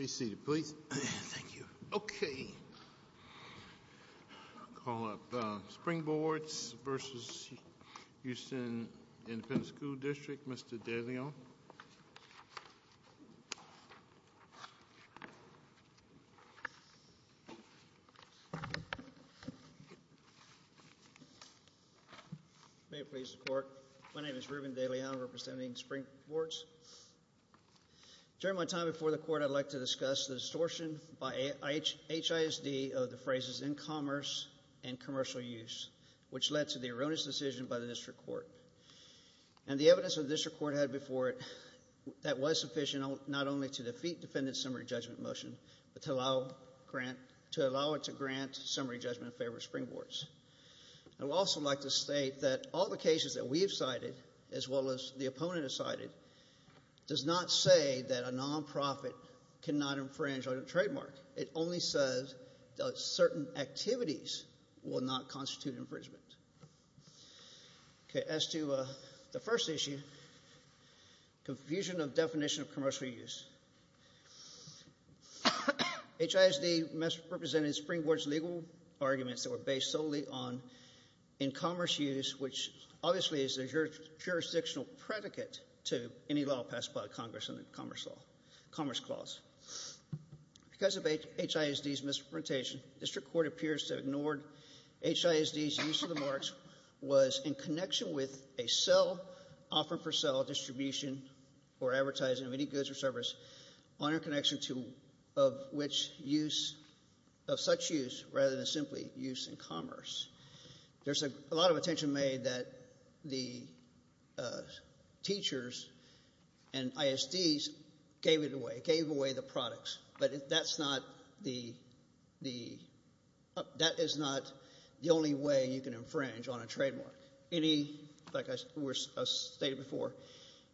a Mr. DeLeon. May it please the court. My name is Reuben DeLeon, representing Springboards. During my time before the court, I'd like to discuss the distortion by HISD of the phrases in commerce and commercial use, which led to the erroneous decision by the district court. And the evidence that the district court had before it that was sufficient not only to defeat defendant's summary judgment motion, but to allow it to grant summary judgment in favor of Springboards. I would also like to state that all the cases that we have cited, as well as the opponent has cited, does not say that a non-profit cannot infringe on a trademark. It only says that certain activities will not constitute infringement. As to the first issue, confusion of definition of commercial use. HISD represented Springboards' legal arguments that were based solely on in-commerce use, which obviously is a jurisdictional predicate to any law passed by Congress under the Commerce Clause. Because of HISD's misrepresentation, district court appears to have ignored HISD's use of the marks was in connection with a sell, offer for sell, distribution, or advertising of any goods or service on our connection to, of which use, of such use, rather than simply use in commerce. There's a lot of attention made that the teachers and ISDs gave it away, gave away the products. But that's not the, that is not the only way you can infringe on a trademark. Any, like I stated before,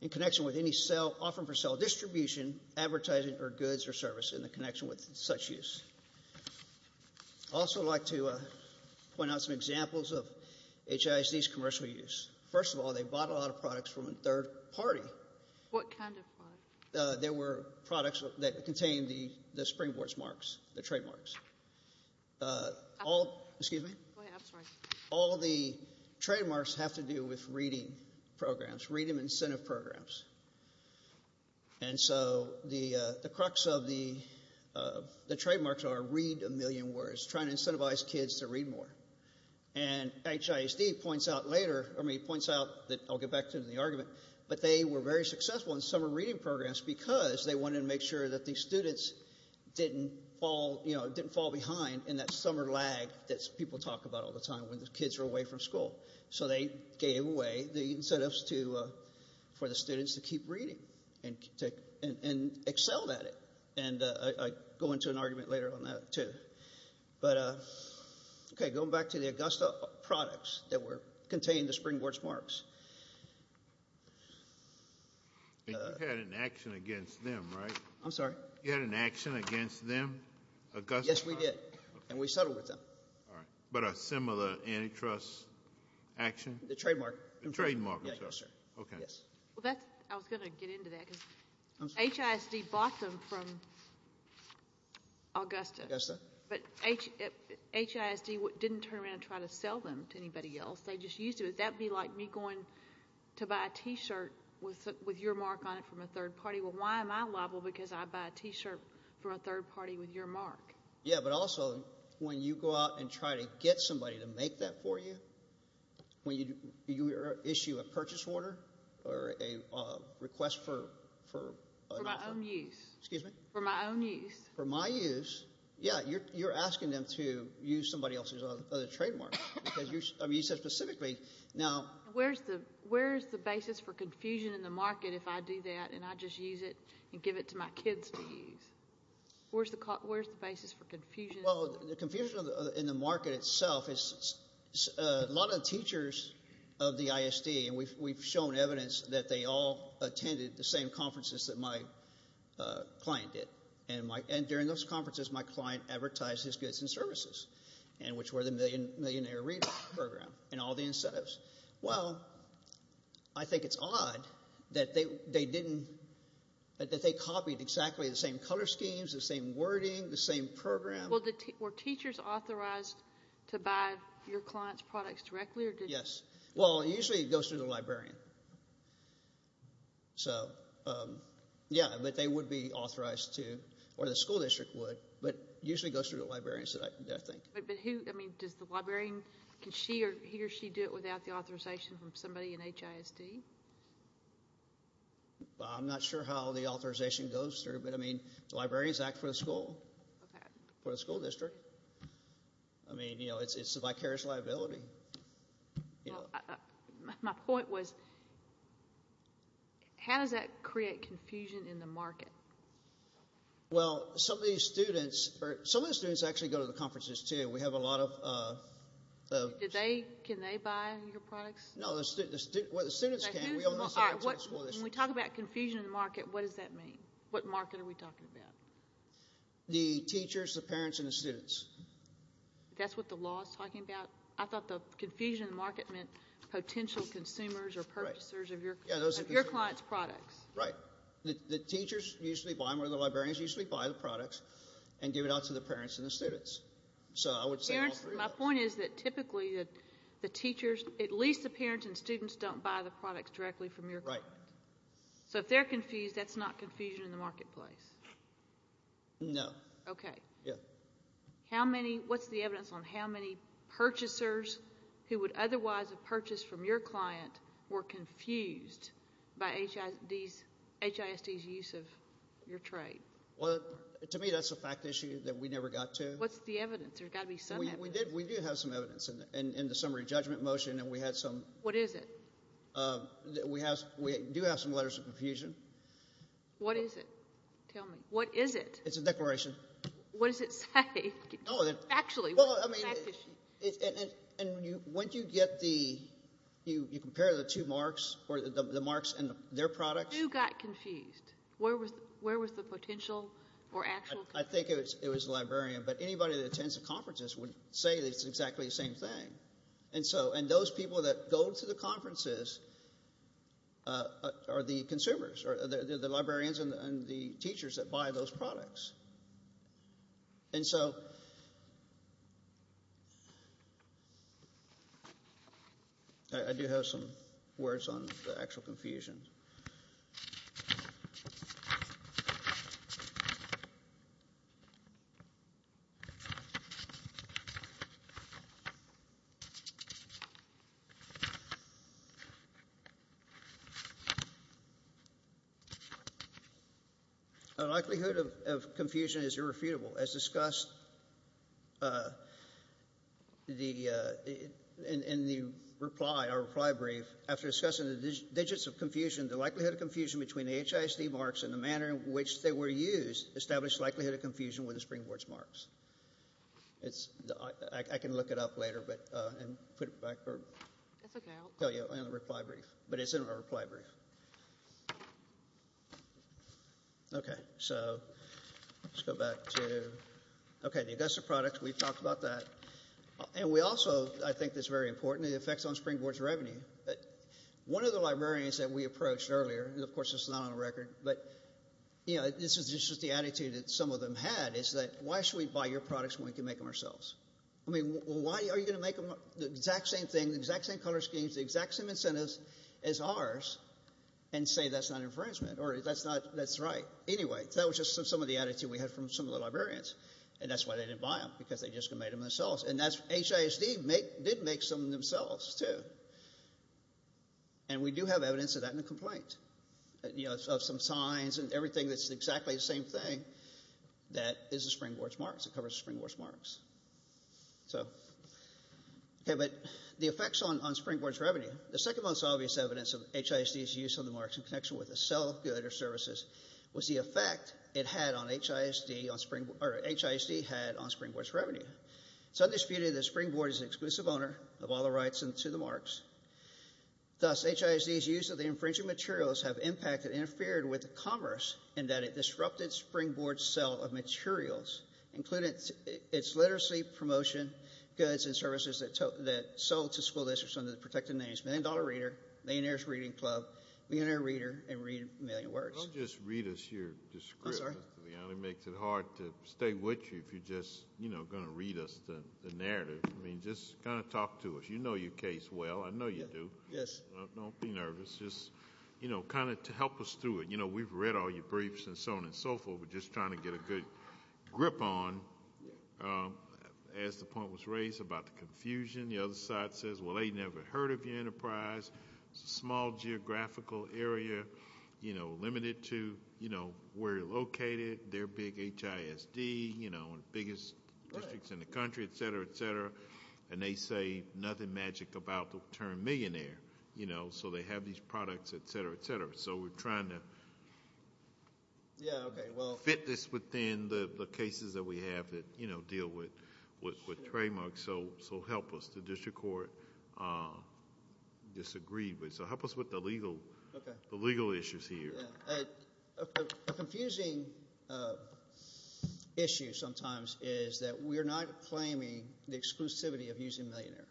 in connection with any sell, offer for sell, distribution, advertising or goods or service in the connection with such use. I'd also like to point out some examples of HISD's commercial use. First of all, they bought a lot of products from a third party. There were products that contained the Springboards marks, the trademarks. All the trademarks have to do with reading programs, reading incentive programs. And so the crux of the trademarks are read a million words, trying to incentivize kids to read more. And HISD points out later, I mean, points out that, I'll get back to it in the argument, but they were very successful in summer reading programs because they wanted to make sure that the students didn't fall, you know, didn't fall behind in that summer lag that people talk about all the time when the kids are away from school. So they gave away the incentives for the students to keep reading and excelled at it. And I'll go into an argument later on that too. But OK, going back to the Augusta products that contained the Springboards marks. You had an action against them, right? I'm sorry? You had an action against them? Yes, we did. And we settled with them. But a similar antitrust action? The trademark. I was going to get into that because HISD bought them from Augusta. But HISD didn't turn around and try to sell them to anybody else. They just used it. That would be like me going to buy a T-shirt with your mark on it from a third party. Well, why am I liable? Because I buy a T-shirt from a third party with your mark. Yeah, but also when you go out and try to get somebody to make that for you, when you issue a purchase order or a request for... For my own use. For my own use. Yeah, you're asking them to use somebody else's other trademark. Where's the basis for confusion in the market if I do that and I just use it and give it to my kids to use? Where's the basis for confusion? Well, the confusion in the market itself is a lot of the teachers of the ISD, and we've shown evidence that they all attended the same conferences that my client did. And during those conferences, my client advertised his goods and services, which were the Millionaire Reader program and all the incentives. Well, I think it's odd that they didn't, that they copied exactly the same color schemes, the same wording, the same program. Were teachers authorized to buy your client's products directly? Yes. Well, it usually goes through the librarian. Yeah, but they would be authorized to, or the school district would, but it usually goes through the librarian, I think. Does the librarian, can he or she do it without the authorization from somebody in HISD? I'm not sure how the authorization goes through, but, I mean, the librarians act for the school, for the school district. I mean, you know, it's a vicarious liability. My point was, how does that create confusion in the market? Well, some of these students, or some of the students actually go to the conferences, too. We have a lot of— When we talk about confusion in the market, what does that mean? What market are we talking about? The teachers, the parents, and the students. That's what the law is talking about? I thought the confusion in the market meant potential consumers or purchasers of your client's products. Right. The teachers usually buy them, or the librarians usually buy the products and give it out to the parents and the students. My point is that typically the teachers, at least the parents and students, don't buy the products directly from your client. So if they're confused, that's not confusion in the marketplace? No. Okay. What's the evidence on how many purchasers who would otherwise have purchased from your client were confused by HISD's use of your trade? Well, to me that's a fact issue that we never got to. What's the evidence? There's got to be some evidence. We do have some evidence in the summary judgment motion. What is it? We do have some letters of confusion. What is it? Tell me. What is it? It's a declaration. What does it say? When you compare the two marks, or the marks in their products... Who got confused? Where was the potential or actual confusion? I think it was the librarian, but anybody that attends the conferences would say it's exactly the same thing. And those people that go to the conferences are the consumers, or the librarians and the teachers that buy those products. And so... I do have some words on the actual confusion. The likelihood of confusion is irrefutable. As discussed in the reply, our reply brief, after discussing the digits of confusion, the likelihood of confusion between the HISD marks and the manner in which they were used established the likelihood of confusion with the Springboard's marks. I can look it up later and put it back. It's in our reply brief. Okay, so let's go back to... Okay, the Augusta products, we've talked about that. And we also, I think this is very important, the effects on Springboard's revenue. One of the librarians that we approached earlier, and of course this is not on the record, but this is just the attitude that some of them had, is that, why should we buy your products when we can make them ourselves? I mean, why are you going to make them the exact same thing, the exact same color schemes, the exact same incentives as ours, and say that's not infringement, or that's not, that's right. Anyway, that was just some of the attitude we had from some of the librarians. And that's why they didn't buy them, because they just made them themselves. And HISD did make some of them themselves, too. And we do have evidence of that in the complaint, of some signs and everything that's exactly the same thing that is the Springboard's marks, it covers Springboard's marks. Okay, but the effects on Springboard's revenue. The second most obvious evidence of HISD's use of the marks in connection with a sell of goods or services was the effect HISD had on Springboard's revenue. It's undisputed that Springboard is the exclusive owner of all the rights to the marks. Thus, HISD's use of the infringing materials have impacted and interfered with commerce in that it disrupted Springboard's sell of materials, including its literacy, promotion, goods and services that sold to school districts under the protected names Million Dollar Reader, Millionaire's Reading Club, Millionaire Reader, and Read a Million Words. Don't just read us your description. It makes it hard to stay with you if you're just going to read us the narrative. I mean, just kind of talk to us. You know your case well. I know you do. Don't be nervous. Just kind of help us through it. We've read all your briefs and so on and so forth. We're just trying to get a good grip on as the point was raised about the confusion. The other side says, well, they never heard of your enterprise. It's a small geographical area limited to where you're located, their big HISD, the biggest districts in the country, et cetera, et cetera. And they say nothing magic about the term millionaire. So they have these products, et cetera, et cetera. So we're trying to fit this within the cases that we have that deal with trademarks. So help us. The district court disagreed. So help us with the legal issues here. A confusing issue sometimes is that we're not claiming the exclusivity of using millionaire.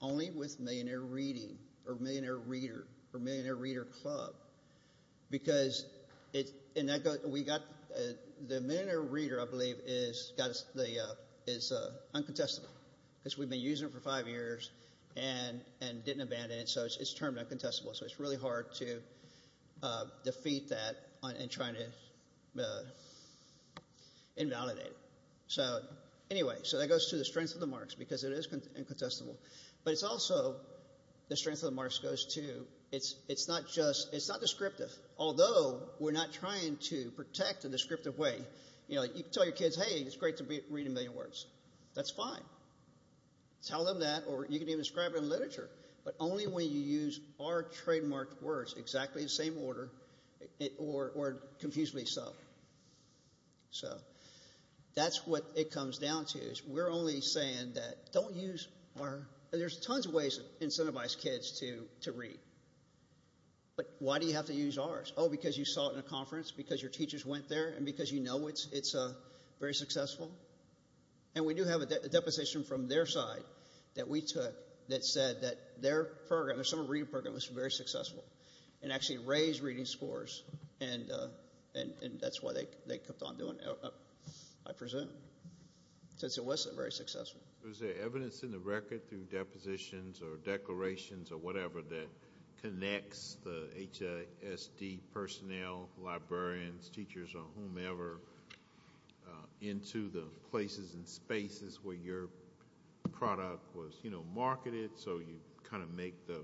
Only with millionaire reading or millionaire reader or millionaire reader club because the millionaire reader, I believe, is uncontestable because we've been using it for five years and didn't abandon it. So it's termed invalidated. So anyway, so that goes to the strength of the marks because it is uncontestable. But it's also the strength of the marks goes to, it's not descriptive. Although we're not trying to protect in a descriptive way. You can tell your kids, hey, it's great to read a million words. That's fine. Tell them that. Or you can even describe it in literature. But only when you use our trademarked words exactly the same order or confusedly so. So that's what it comes down to is we're only saying that don't use our, there's tons of ways to incentivize kids to read. But why do you have to use ours? Oh, because you saw it in a conference, because your teachers went there, and because you know it's very successful. And we do have a deposition from their side that we took that said that their program, their summer reading program was very successful and actually raised reading scores. And that's why they kept on doing it, I presume, since it wasn't very successful. Was there evidence in the record through depositions or declarations or whatever that connects the HISD personnel, librarians, teachers, or whomever, into the places and spaces where your product was marketed so you kind of make the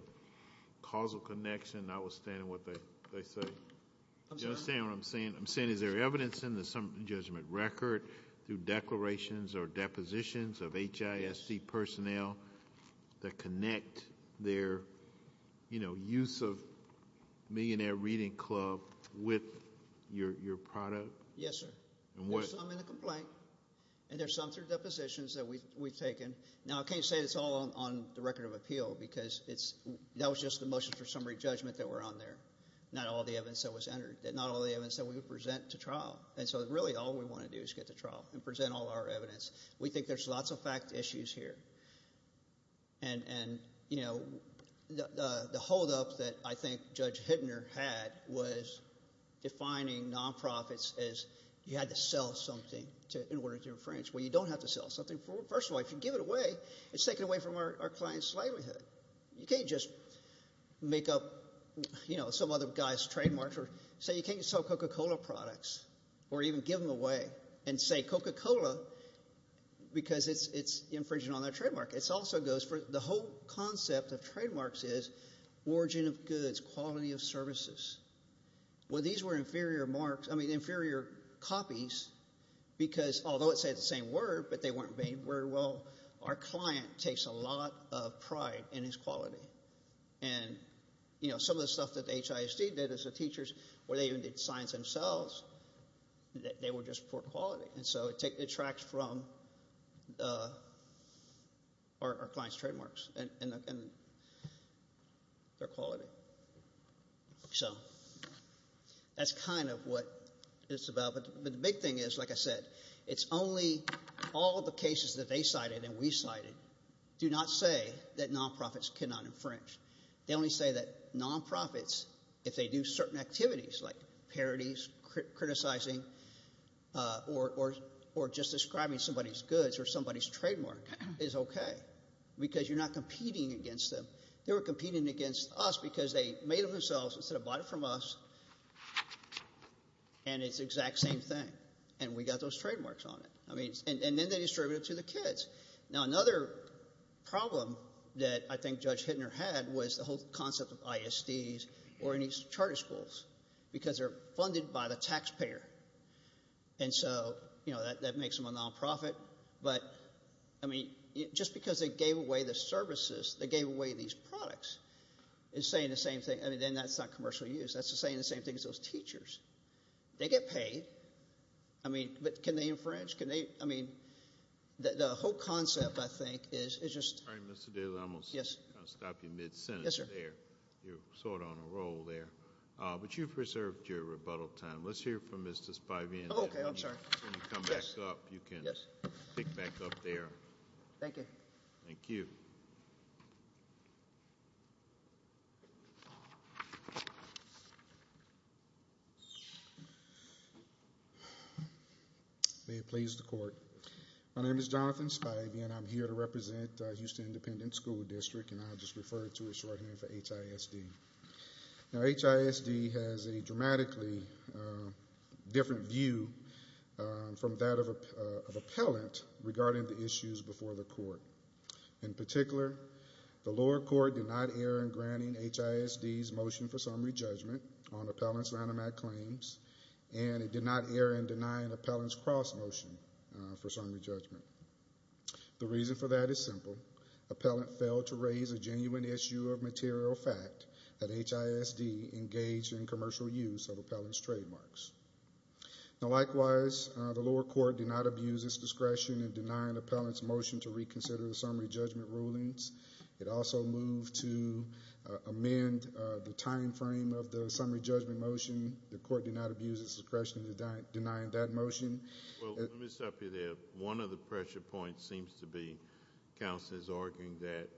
causal connection, notwithstanding what they say? I'm sorry? Do you understand what I'm saying? I'm saying is there evidence in the summer judgment record through declarations or depositions of HISD personnel that connect their use of Millionaire Reading Club with your product? Yes, sir. There's some in the complaint, and there's some through depositions that we've taken. Now I can't say it's all on the record of appeal, because that was just the motion for summery judgment that were on there, not all the evidence that was entered, not all the evidence that we would present to trial. And so really all we want to do is get to trial and present all our evidence. We think there's lots of fact issues here. And the holdup that I think Judge Hittner had was defining nonprofits as you had to sell something in order to infringe. Well, you don't have to sell something. First of all, if you give it away, it's taking away from our client's slaveryhood. You can't just make up some other guy's trademark or say you can't sell Coca-Cola products or even give them away and say Coca-Cola because it's infringing on their trademark. The whole concept of trademarks is origin of goods, quality of services. Well, these were inferior copies, because although it said the same word, but they weren't made very well, our client takes a lot of pride in his quality. And some of the stuff that they were just poor quality. And so it tracks from our client's trademarks and their quality. So that's kind of what it's about. But the big thing is, like I said, it's only all the cases that they cited and we cited do not say that nonprofits cannot infringe. They only say that nonprofits, if they do certain activities like parodies, criticizing, or just describing somebody's goods or somebody's trademark is okay, because you're not competing against them. They were competing against us because they made them themselves instead of bought it from us. And it's the exact same thing. And we got those trademarks on it. And then they distribute it to the kids. Now, another problem that I think Judge Hittner had was the whole concept of ISDs or any charter schools, because they're funded by the taxpayer. And so that makes them a nonprofit. But I mean, just because they gave away the services, they gave away these products, is saying the same thing. I mean, then that's not commercial use. That's saying the same thing as those teachers. They get paid. I mean, but can they infringe? Can they? I mean, the whole concept, I think, is just. All right, Mr. Daly, I'm going to stop you mid-sentence there. You're sort of on a roll there. But you've preserved your rebuttal time. Let's hear from Mr. Spivey. When you come back up, you can pick back up there. Thank you. Thank you. May it please the court. My name is Jonathan Spivey, and I'm here to represent Houston Independent School District. And I'll just refer to it shorthand for HISD. Now, HISD has a dramatically different view from that of appellant regarding the issues before the court. In particular, the lower court did not err in granting HISD's motion for summary judgment and did not err in denying appellant's cross motion for summary judgment. The reason for that is simple. Appellant failed to raise a genuine issue of material fact that HISD engaged in commercial use of appellant's trademarks. Now, likewise, the lower court did not abuse its discretion in denying appellant's motion to reconsider the summary judgment rulings. It also moved to amend the time frame of the summary judgment motion. The court did not abuse its discretion in denying that motion. Well, let me stop you there. One of the pressure points seems to be counsel is arguing that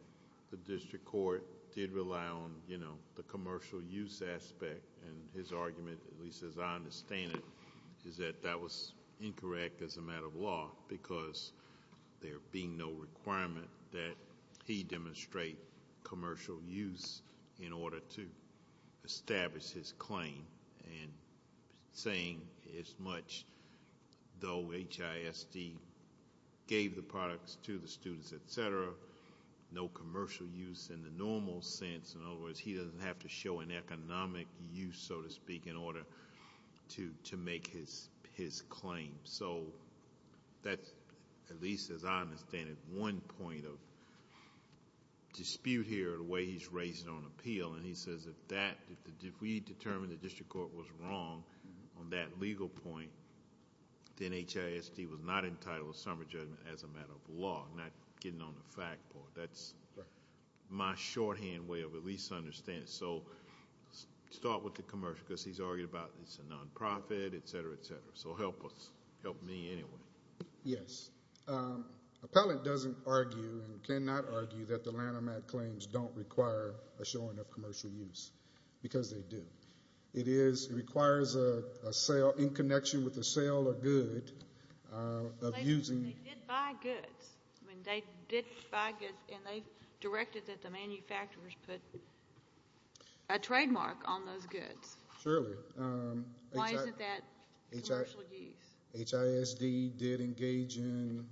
the district court did rely on, you know, the commercial use aspect. And his argument, at least as I understand it, is that that was incorrect as a matter of law because there being no commercial use in order to establish his claim. And saying as much, though HISD gave the products to the students, etc., no commercial use in the normal sense. In other words, he doesn't have to show an economic use, so to speak, in order to make his claim. So that's, at least as I understand it, one point of dispute here in the way he's raising it on appeal. And he says if we determined the district court was wrong on that legal point, then HISD was not entitled to summary judgment as a matter of law, not getting on the fact part. That's my shorthand way of at least understanding. So start with the Yes. Appellant doesn't argue and cannot argue that the Lanham Act claims don't require a showing of commercial use because they do. It requires a sale in connection with a sale or good of using They did buy goods. I mean, they did buy goods, and they directed that the manufacturers put a trademark on those goods. Surely. Why isn't that commercial use? HISD did engage in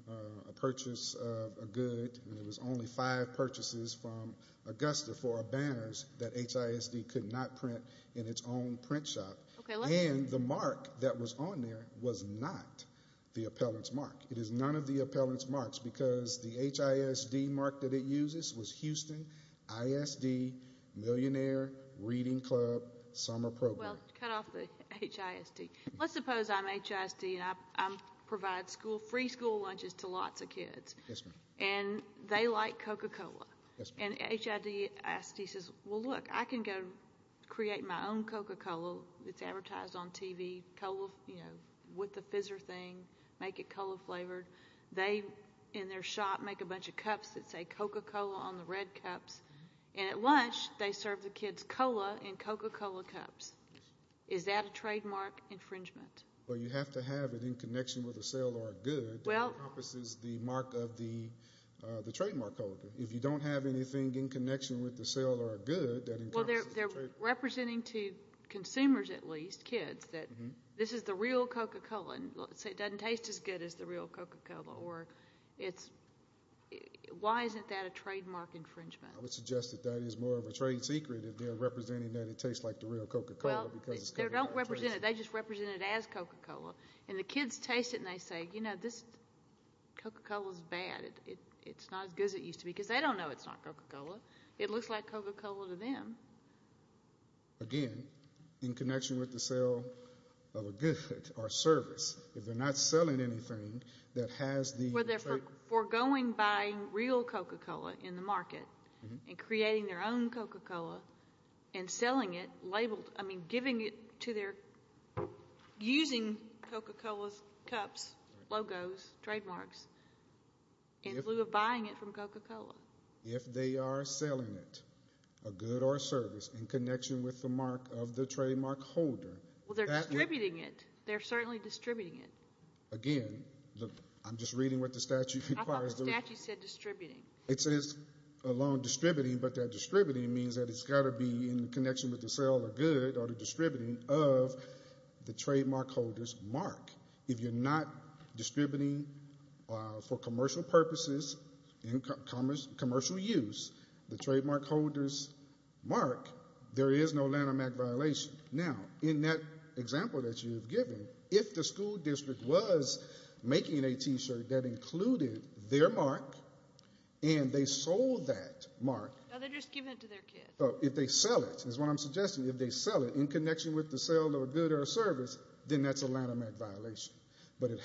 a purchase of a good, and there was only five purchases from Augusta for our banners that HISD could not print in its own print shop. And the mark that was on there was not the appellant's mark. It is none of the appellant's marks because the HISD mark that it uses was not the appellant's mark. Well, cut off the HISD. Let's suppose I'm HISD, and I provide free school lunches to lots of kids, and they like Coca-Cola. And HISD says, well, look, I can go create my own Coca-Cola that's advertised on TV with the fizzer thing, make it and Coca-Cola cups. Is that a trademark infringement? Well, you have to have it in connection with a sale or a good that encompasses the mark of the trademark code. If you don't have anything in connection with the sale or a good that encompasses the trademark code. Well, they're representing to consumers, at least, kids, that this is the real Coca-Cola. It doesn't taste as good as the real Coca-Cola. Why isn't that a trademark infringement? I would suggest that that is more of a trade secret if they're representing that it tastes like the real Coca-Cola. They just represent it as Coca-Cola. And the kids taste it and they say, you know, this Coca-Cola is bad. It's not as good as it used to be because they don't know it's not Coca-Cola. It looks like Coca-Cola to them. Again, in connection with the sale of a good or service. If they're not selling anything that has the... Forgoing buying real Coca-Cola in the market and creating their own Coca-Cola and selling it labeled, I mean, giving it to their, using Coca-Cola's cups, logos, trademarks in lieu of buying it from Coca-Cola. If they are selling it, a good or a service, in connection with the mark of the trademark holder. Well, they're distributing it. They're certainly distributing it. Again, I'm just reading what the statute requires. I thought the statute said distributing. It says alone distributing, but that distributing means that it's got to be in connection with the sale of a good or the distributing of the trademark holder's mark. If you're not distributing for commercial purposes, commercial use, the trademark holder's mark, there is no Lanham Act violation. Now, in that example that you've given, if the school district was making a T-shirt that included their mark and they sold that mark... But it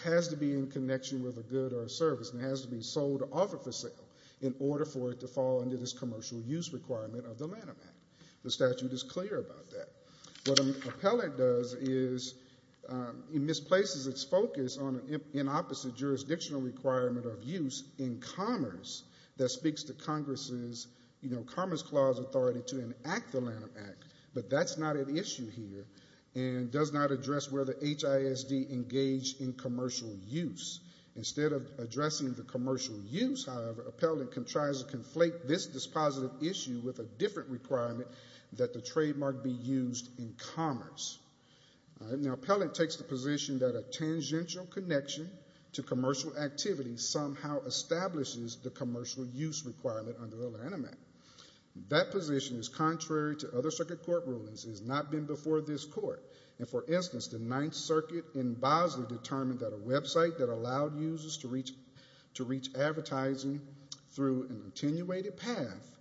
has to be in connection with a good or a service and it has to be sold or offered for sale in order for it to fall under this commercial use requirement of the Lanham Act. The statute is clear about that. What an appellate does is it misplaces its focus on an opposite jurisdictional requirement of use in commerce that speaks to Congress' Commerce Clause authority to enact the Lanham Act. But that's not an issue here and does not address whether HISD engaged in commercial use. Instead of addressing the commercial use, however, appellate can try to conflate this dispositive issue with a different requirement that the trademark be used in commerce. Now, appellate takes the position that a tangential connection to commercial activity somehow establishes the commercial use requirement under the Lanham Act. That position is contrary to other circuit court rulings and has not been before this court. And for instance, the Ninth Circuit in Bosley determined that a website that allowed users to reach advertising through an attenuated path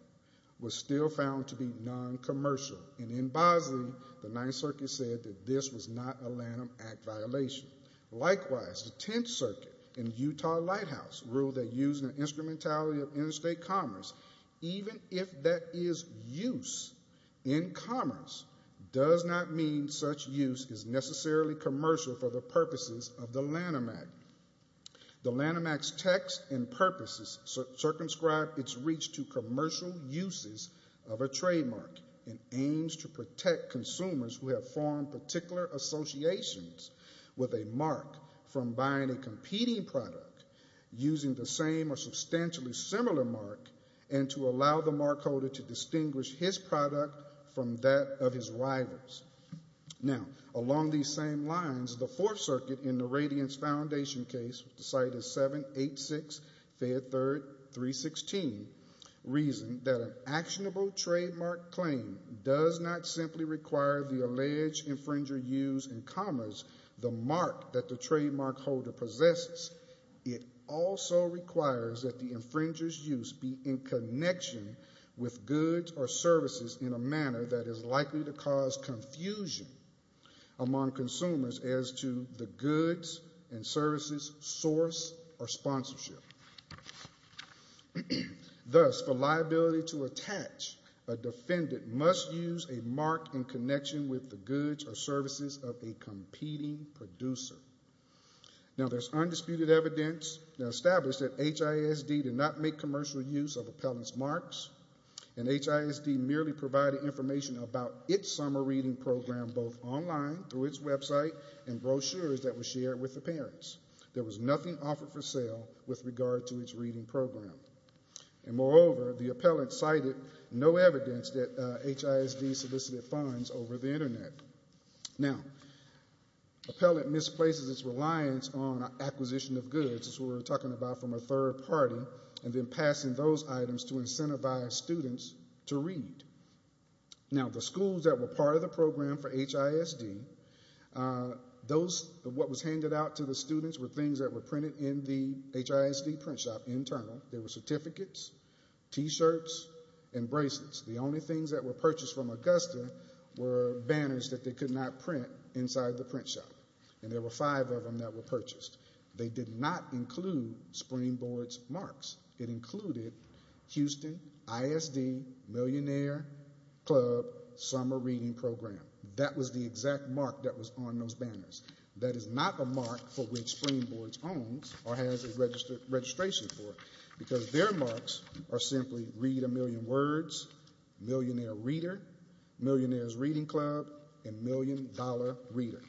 was still found to be non-commercial. And in Bosley, the Ninth Circuit said that this was not a Lanham Act violation. Likewise, the Tenth Circuit and Utah Lighthouse ruled that using an instrumentality of interstate commerce, even if that is use in commerce, does not mean such use is necessarily commercial for the purposes of the Lanham Act. The Lanham Act's text and purposes circumscribe its reach to commercial uses of a trademark and aims to protect consumers who have formed particular associations with a mark from buying a competing product using the same or substantially similar mark and to allow the markholder to distinguish his product from that of his rival's. Now, along these same lines, the Fourth Circuit in the Radiance Foundation case, which the site is 786 Fayette 3rd 316, reasoned that an actionable trademark claim does not simply require the alleged infringer use, in commas, the mark that the trademark holder possesses. It also requires that the infringer's use be in connection with goods or services in a manner that is likely to cause confusion among consumers as to the goods and services source or sponsorship. Thus, for liability to attach, a defendant must use a mark in connection with the goods or services of a competing producer. Now, there's undisputed evidence established that HISD did not make commercial use of appellant's marks and HISD merely provided information about its summer reading program both online through its website and brochures that were shared with the parents. There was nothing offered for sale with regard to its reading program. And moreover, the appellant cited no evidence that HISD solicited funds over the Internet. Now, appellant misplaces its reliance on acquisition of goods, as we were talking about from a third party, and then passing those items to incentivize students to read. Now, the schools that were part of the program for HISD, what was handed out to the students were things that were printed in the HISD print shop internal. There were certificates, T-shirts, and bracelets. The only things that were purchased from Augusta were banners that they could not print inside the print shop. And there were five of them that were purchased. They did not include Springboard's marks. It included Houston ISD Millionaire Club Summer Reading Program. That was the exact mark that was on those banners. That is not the mark for which Springboard's owns or has a registration for, because their marks are simply Read a Million Words, Millionaire Reader, Millionaire's Reading Club, and Million Dollar Reader.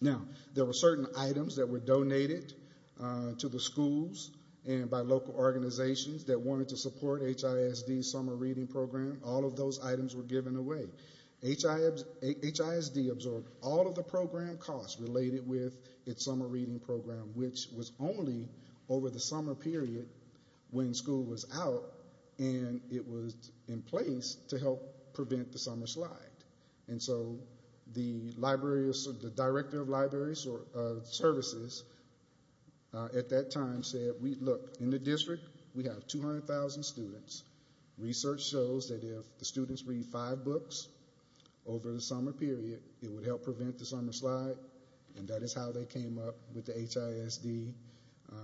Now, there were certain items that were donated to the schools and by local organizations that wanted to support HISD's Summer Reading Program. All of those items were given away. HISD absorbed all of the program costs related with its Summer Reading Program, which was only over the summer period when school was out, and it was in place to help prevent the summer slide. The Director of Library Services at that time said, look, in the district we have 200,000 students. Research shows that if the students read five books over the summer period, it would help prevent the summer slide, and that is how they came up with the HISD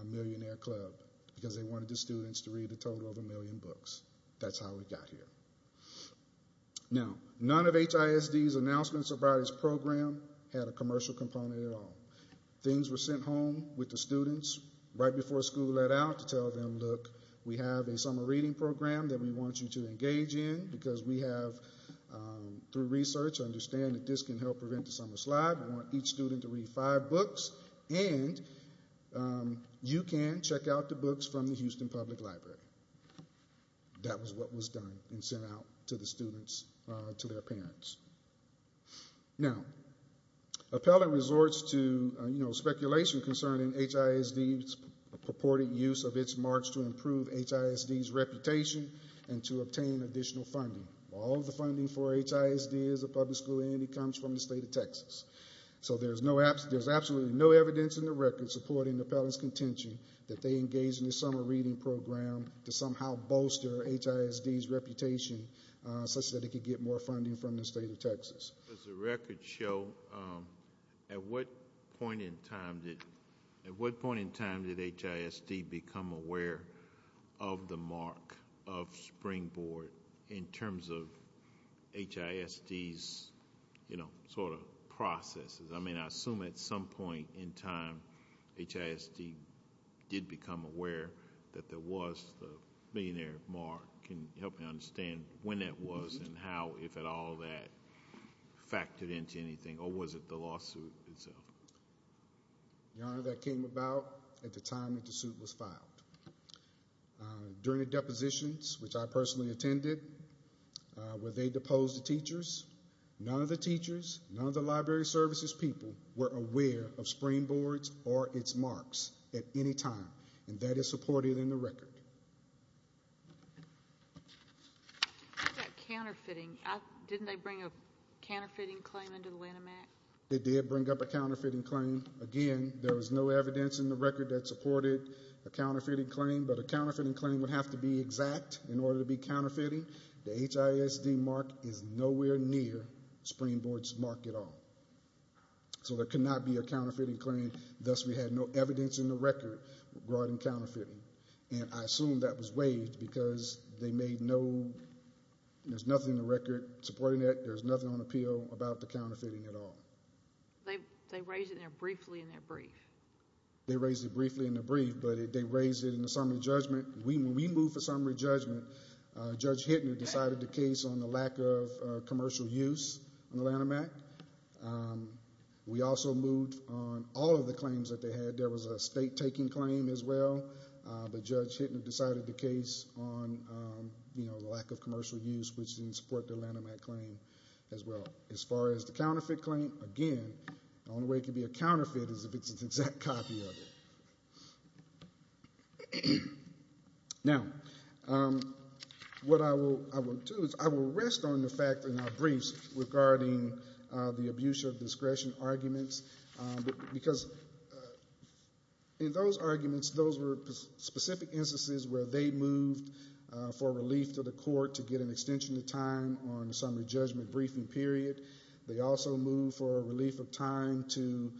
Millionaire Club, because they wanted the students to read a total of a million books. That's how we got here. Now, none of HISD's announcements about its program had a commercial component at all. Things were sent home with the students right before school let out to tell them, look, we have a Summer Reading Program that we want you to engage in, because we have, through research, understand that this can help prevent the summer slide. You can check out the books from the Houston Public Library. That was what was done and sent out to the students, to their parents. Now, Appellant resorts to speculation concerning HISD's purported use of its marks to improve HISD's reputation and to obtain additional funding. All of the funding for HISD as a public school entity comes from the Houston Public Library. They engage in the Summer Reading Program to somehow bolster HISD's reputation, such that it can get more funding from the state of Texas. Does the record show, at what point in time did HISD become aware of the mark of Springboard in terms of HISD's sort of processes? I mean, I assume at some point in time HISD did become aware that there was the millionaire mark. Can you help me understand when that was and how, if at all, that factored into anything, or was it the lawsuit itself? Your Honor, that came about at the time that the suit was filed. During the depositions, which I personally attended, where they deposed the teachers, none of the teachers, none of the library services people were aware of Springboard's or its marks at any time. And that is supported in the record. What about counterfeiting? Didn't they bring a counterfeiting claim under the Lanham Act? They did bring up a counterfeiting claim. Again, there was no evidence in the record that supported a counterfeiting claim, but a counterfeiting claim would have to be exact in order to be counterfeiting. The HISD mark is nowhere near Springboard's mark at all. So there could not be a counterfeiting claim. Thus, we had no evidence in the record regarding counterfeiting. And I assume that was waived because they made no, there's nothing in the record supporting it, there's nothing on appeal about the counterfeiting at all. They raised it there briefly in their brief. They raised it briefly in their brief, but they raised it in the summary judgment. When we moved for summary judgment, Judge Hittner decided the case on the lack of commercial use on the Lanham Act. We also moved on all of the claims that they had. There was a state-taking claim as well, but Judge Hittner decided the case on the lack of commercial use, which didn't support the Lanham Act claim as well. As far as the counterfeit claim, again, the only way it could be a counterfeit is if it's an exact copy of it. Now, what I will do is I will rest on the fact in our briefs regarding the abuse of discretion arguments, because in those arguments, those were specific instances where they moved for relief to the court to get an extension of time on the summary judgment briefing period. They also moved for a relief of time to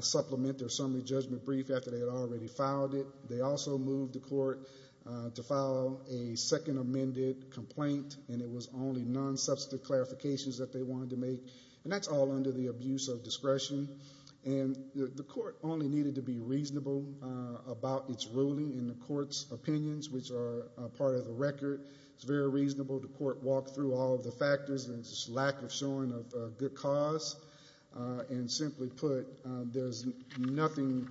supplement their summary judgment brief after they had already filed it. They also moved the court to file a second amended complaint, and it was only non-substantive clarifications that they wanted to make, and that's all under the abuse of discretion. The court only needed to be reasonable about its ruling in the court's opinions, which are part of the record. It's very reasonable. The court walked through all of the factors and its lack of showing of good cause. Simply put, there's nothing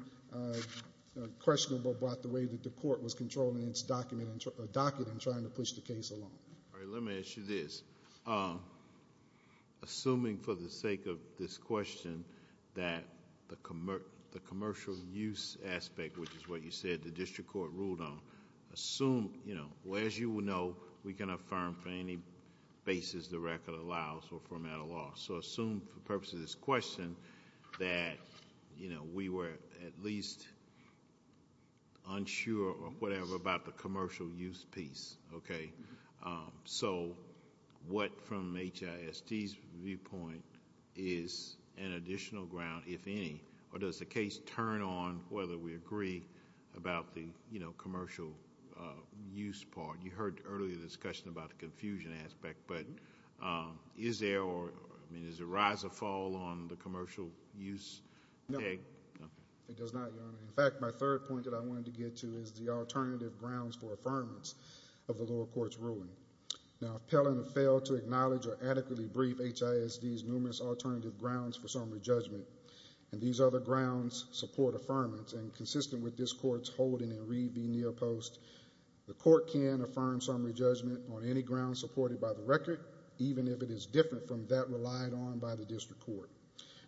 questionable about the way that the court was controlling its docket in trying to push the case along. All right, let me ask you this. Assuming for the sake of this question that the commercial use aspect, which is what you said the district court ruled on, as you know, we can affirm for any basis the record allows or format a law. Assume for the purpose of this question that we were at least unsure or whatever about the commercial use piece. So what, from HIST's viewpoint, is an additional ground, if any? Or does the case turn on whether we agree about the commercial use part? You heard earlier the discussion about the confusion aspect, but is there a rise or fall on the commercial use? No. It does not, Your Honor. In fact, my third point that I wanted to get to is the alternative grounds for affirmance of the lower court's ruling. Now, if Pellant failed to acknowledge or adequately brief HIST's numerous alternative grounds for summary judgment, and these other grounds support affirmance, and consistent with this court's holding in Reed v. Neal Post, the court can affirm summary judgment on any ground supported by the record, even if it is different from that relied on by the district court.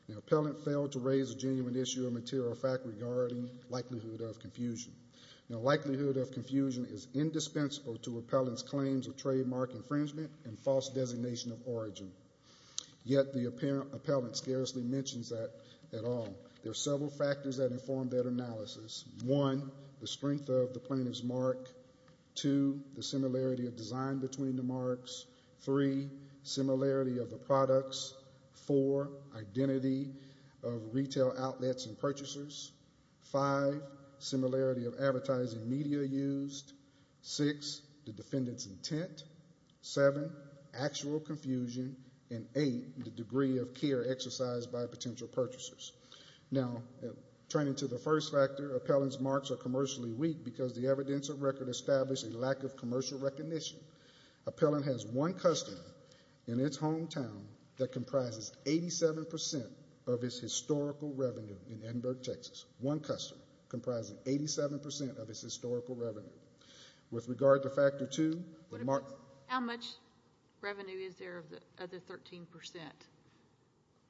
Now, Pellant failed to raise a genuine issue or material fact regarding likelihood of confusion. Now, likelihood of confusion is indispensable to Appellant's claims of trademark infringement and false designation of origin, yet the Appellant scarcely mentions that at all. There are several factors that inform that analysis. One, the strength of the plaintiff's mark. Two, the similarity of design between the marks. Three, similarity of the products. Four, identity of retail outlets and purchasers. Five, similarity of advertising media used. Six, the defendant's intent. Seven, actual confusion. And eight, the degree of care exercised by potential purchasers. Now, turning to the first factor, Appellant's marks are commercially weak because the evidence of record established a lack of commercial recognition. Appellant has one customer in its hometown that comprises 87% of its historical revenue in Edinburgh, Texas. One customer comprising 87% of its historical revenue. With regard to factor two, the mark. How much revenue is there of the other 13%?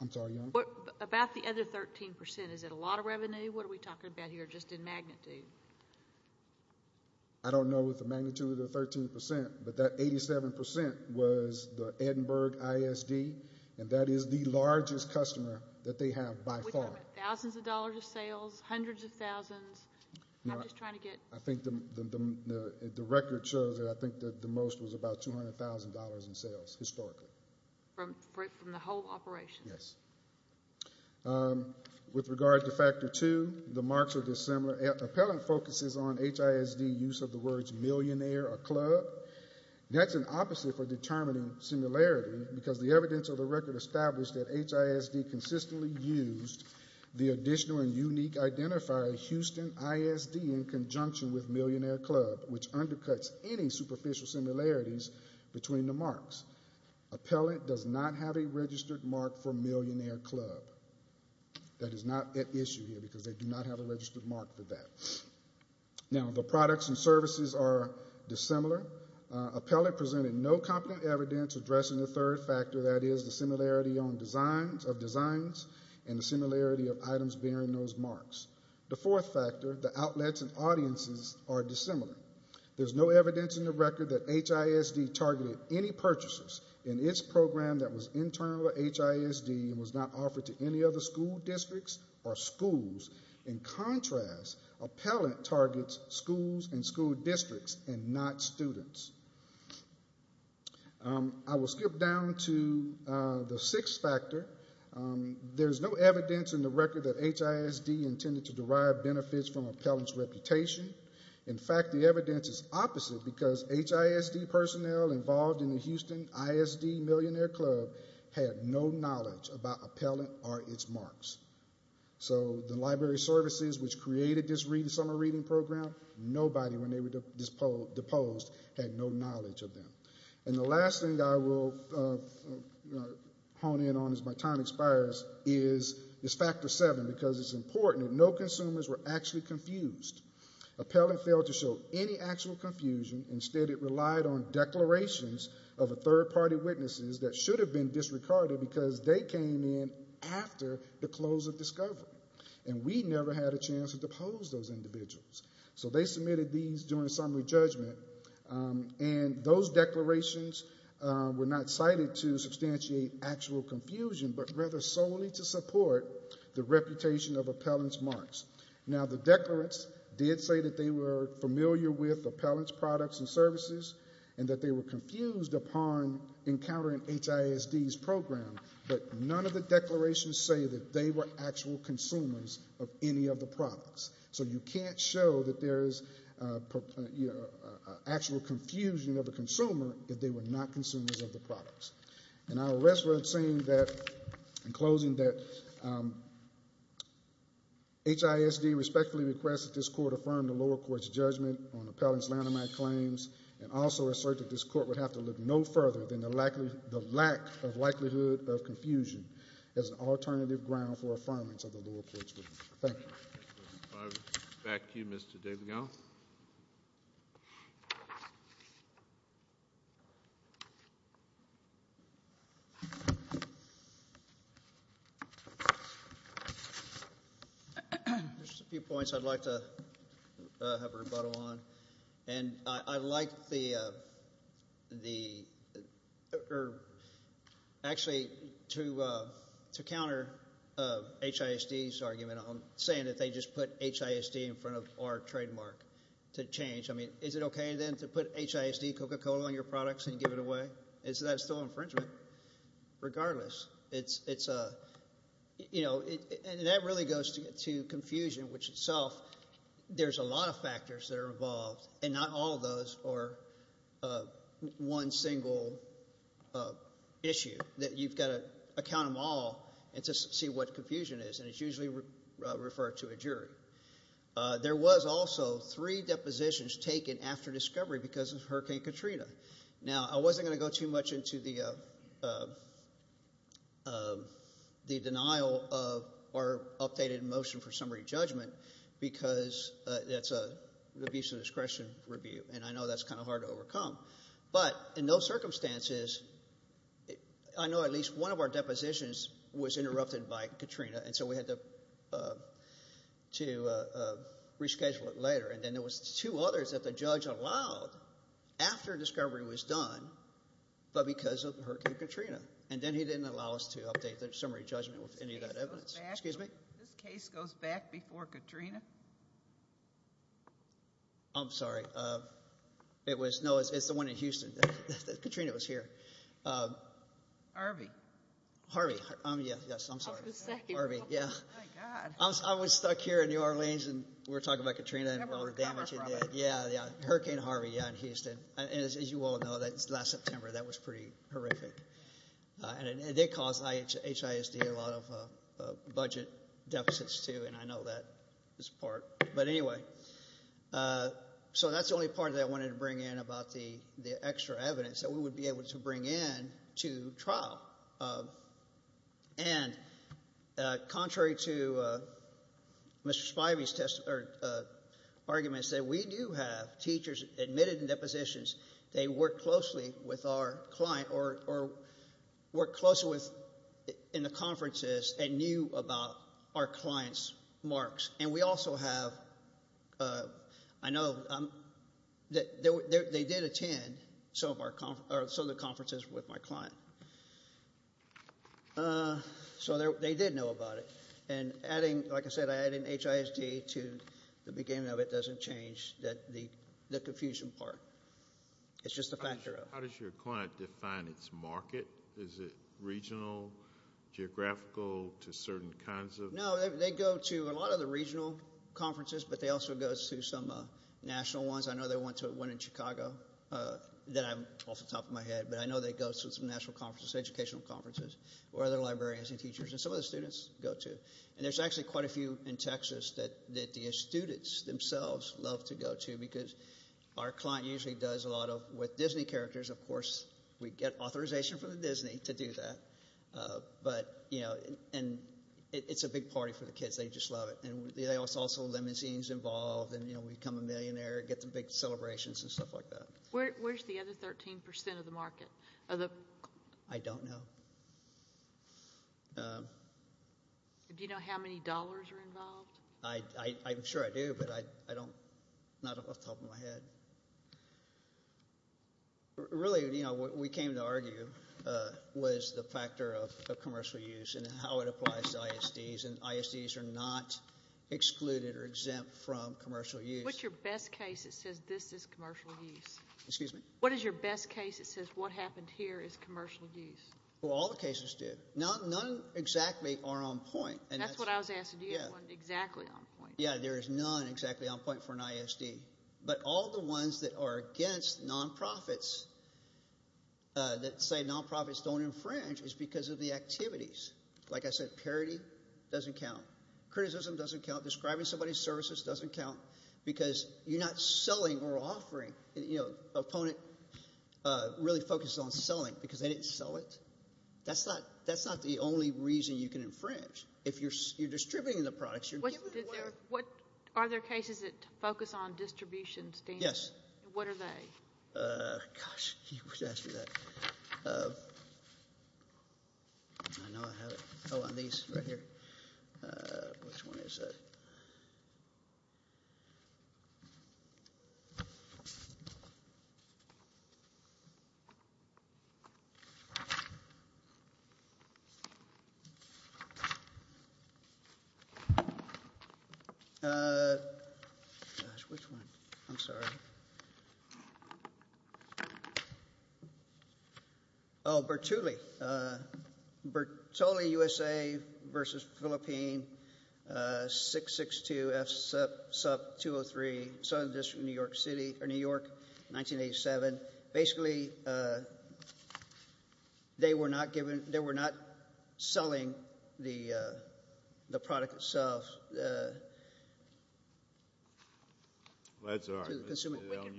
I'm sorry, Your Honor? About the other 13%, is it a lot of revenue? What are we talking about here, just in magnitude? I don't know if the magnitude of the 13%, but that 87% was the Edinburgh ISD, and that is the largest customer that they have by far. We're talking about thousands of dollars of sales, hundreds of thousands. The record shows that I think the most was about $200,000 in sales historically. From the whole operation? With regard to factor two, the marks are dissimilar. Appellant focuses on HISD, use of the words millionaire or club. That's an opposite for determining similarity, because the evidence of the record established that HISD consistently used the additional and unique identifier Houston ISD in conjunction with millionaire club, which undercuts any superficial similarities between the marks. Appellant does not have a registered mark for millionaire club. That is not at issue here, because they do not have a registered mark for that. Now, the products and services are dissimilar. Appellant presented no competent evidence addressing the third factor, that is, the similarity of designs and the similarity of items bearing those marks. The fourth factor, the outlets and audiences are dissimilar. There's no evidence in the record that HISD targeted any purchases in its program that was internal to HISD and was not offered to any other school districts or schools. In contrast, appellant targets schools and school districts and not students. I will skip down to the sixth factor. There's no evidence in the record that HISD intended to derive benefits from appellant's reputation. In fact, the evidence is opposite, because HISD personnel involved in the Houston ISD millionaire club had no knowledge about appellant or its marks. So the library services which created this summer reading program, nobody, when they were deposed, had no knowledge of them. And the last thing I will hone in on as my time expires is factor seven, because it's important that no consumers were actually confused. Appellant failed to show any actual confusion. Instead, it relied on declarations of third party witnesses that should have been disregarded because they came in after the close of discovery, and we never had a chance to depose those individuals. So they submitted these during summary judgment, and those declarations were not cited to substantiate actual confusion, but rather solely to support the reputation of appellant's marks. Now, the declarants did say that they were familiar with appellant's products and services and that they were confused upon encountering HISD's program, but none of the declarations say that they were actual consumers of any of the products. So you can't show that there is actual confusion of a consumer if they were not consumers of the products. And I will rest with saying that, in closing, that HISD respectfully requests that this Court affirm the lower court's judgment on appellant's Lanham Act claims and also assert that this Court would have to look no further than the lack of likelihood of confusion as an alternative ground for affirmance of the lower court's judgment. Thank you. Back to you, Mr. Dabigal. Just a few points I'd like to have a rebuttal on. And I like the or actually to counter HISD's argument on saying that they just put HISD in front of our trademark to change. I mean, is it okay, then, to put HISD Coca-Cola on your products and give it away? Is that still infringement? Regardless, it's a, you know, and that really goes to confusion, which itself, there's a lot of factors that are involved, and not all of those are one single issue that you've got to account them all to see what confusion is. And it's usually referred to a jury. There was also three depositions taken after discovery because of Hurricane Katrina. Now, I wasn't going to go too much into the denial of our updated motion for summary judgment because that's an abuse of discretion review, and I know that's kind of hard to overcome. But in those circumstances, I know at least one of our depositions was interrupted by Katrina, and so we had to reschedule it later. And then there was two others that the judge allowed after discovery was done, but because of Hurricane Katrina. And then he didn't allow us to update the summary judgment with any of that evidence. Excuse me? This case goes back before Katrina? I'm sorry. It was, no, it's the one in Houston. Katrina was here. Harvey. Harvey. Yes, I'm sorry. Harvey, yeah. I was stuck here in New Orleans, and we were talking about Katrina and Hurricane Harvey in Houston. As you all know, last September, that was pretty horrific. And it did cause HISD a lot of budget deficits, too, and I know that is part. But anyway, so that's the only part that I wanted to bring in about the extra evidence that we would be able to bring in to trial. And contrary to Mr. Spivey's argument, we do have teachers admitted in depositions. They work closely with our client or work closely in the conferences and knew about our client's marks. And we also have, I know, they did attend some of the conferences. They did know about it. And like I said, adding HISD to the beginning of it doesn't change the confusion part. It's just a factor of it. How does your client define its market? Is it regional, geographical, to certain kinds of? No, they go to a lot of the regional conferences, but they also go to some national ones. I know they went to one in Chicago that I'm sure some of the students go to. And there's actually quite a few in Texas that the students themselves love to go to because our client usually does a lot of, with Disney characters, of course, we get authorization from Disney to do that. And it's a big party for the kids. They just love it. And there's also limousines involved and we become a millionaire, get the big celebrations and stuff like that. Where's the other 13% of the market? I don't know. Do you know how many dollars are involved? I'm sure I do, but I don't, not off the top of my head. Really, we came to argue was the factor of commercial use and how it applies to ISDs. And ISDs are not excluded or exempt from commercial use. What's your best case that says this is commercial use? Excuse me? What is your best case that says what happened here is commercial use? Well, all the cases do. None exactly are on point. That's what I was asking. Do you have one exactly on point? Yeah, there is none exactly on point for an ISD. But all the ones that are against nonprofits that say nonprofits don't infringe is because of the activities. Like I said, parody doesn't count. Criticism doesn't count. Describing somebody's services doesn't count because you're not selling or offering. The opponent really focused on selling because they didn't sell it. That's not the only reason you can infringe. If you're distributing the products, you're giving them away. Are there cases that focus on distribution standards? Yes. What are they? Gosh, you guys right here. Which one is it? Gosh, which one? I'm sorry. Oh, Bertulli. Bertulli USA versus Philippine 662FSUP203, Southern District of New York City or New York, 1987. Basically they were not selling the product itself. That's all right.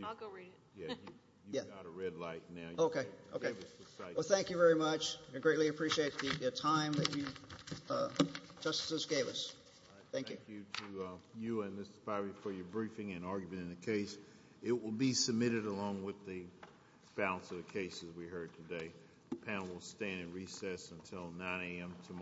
I'll go read it. You've got a red light now. Thank you very much. I greatly appreciate the time that you gave us. Thank you. Thank you to you and this is probably for your briefing and argument in the case. It will be submitted along with the balance of the cases we heard today. The panel will stand in recess until 9 a.m. tomorrow.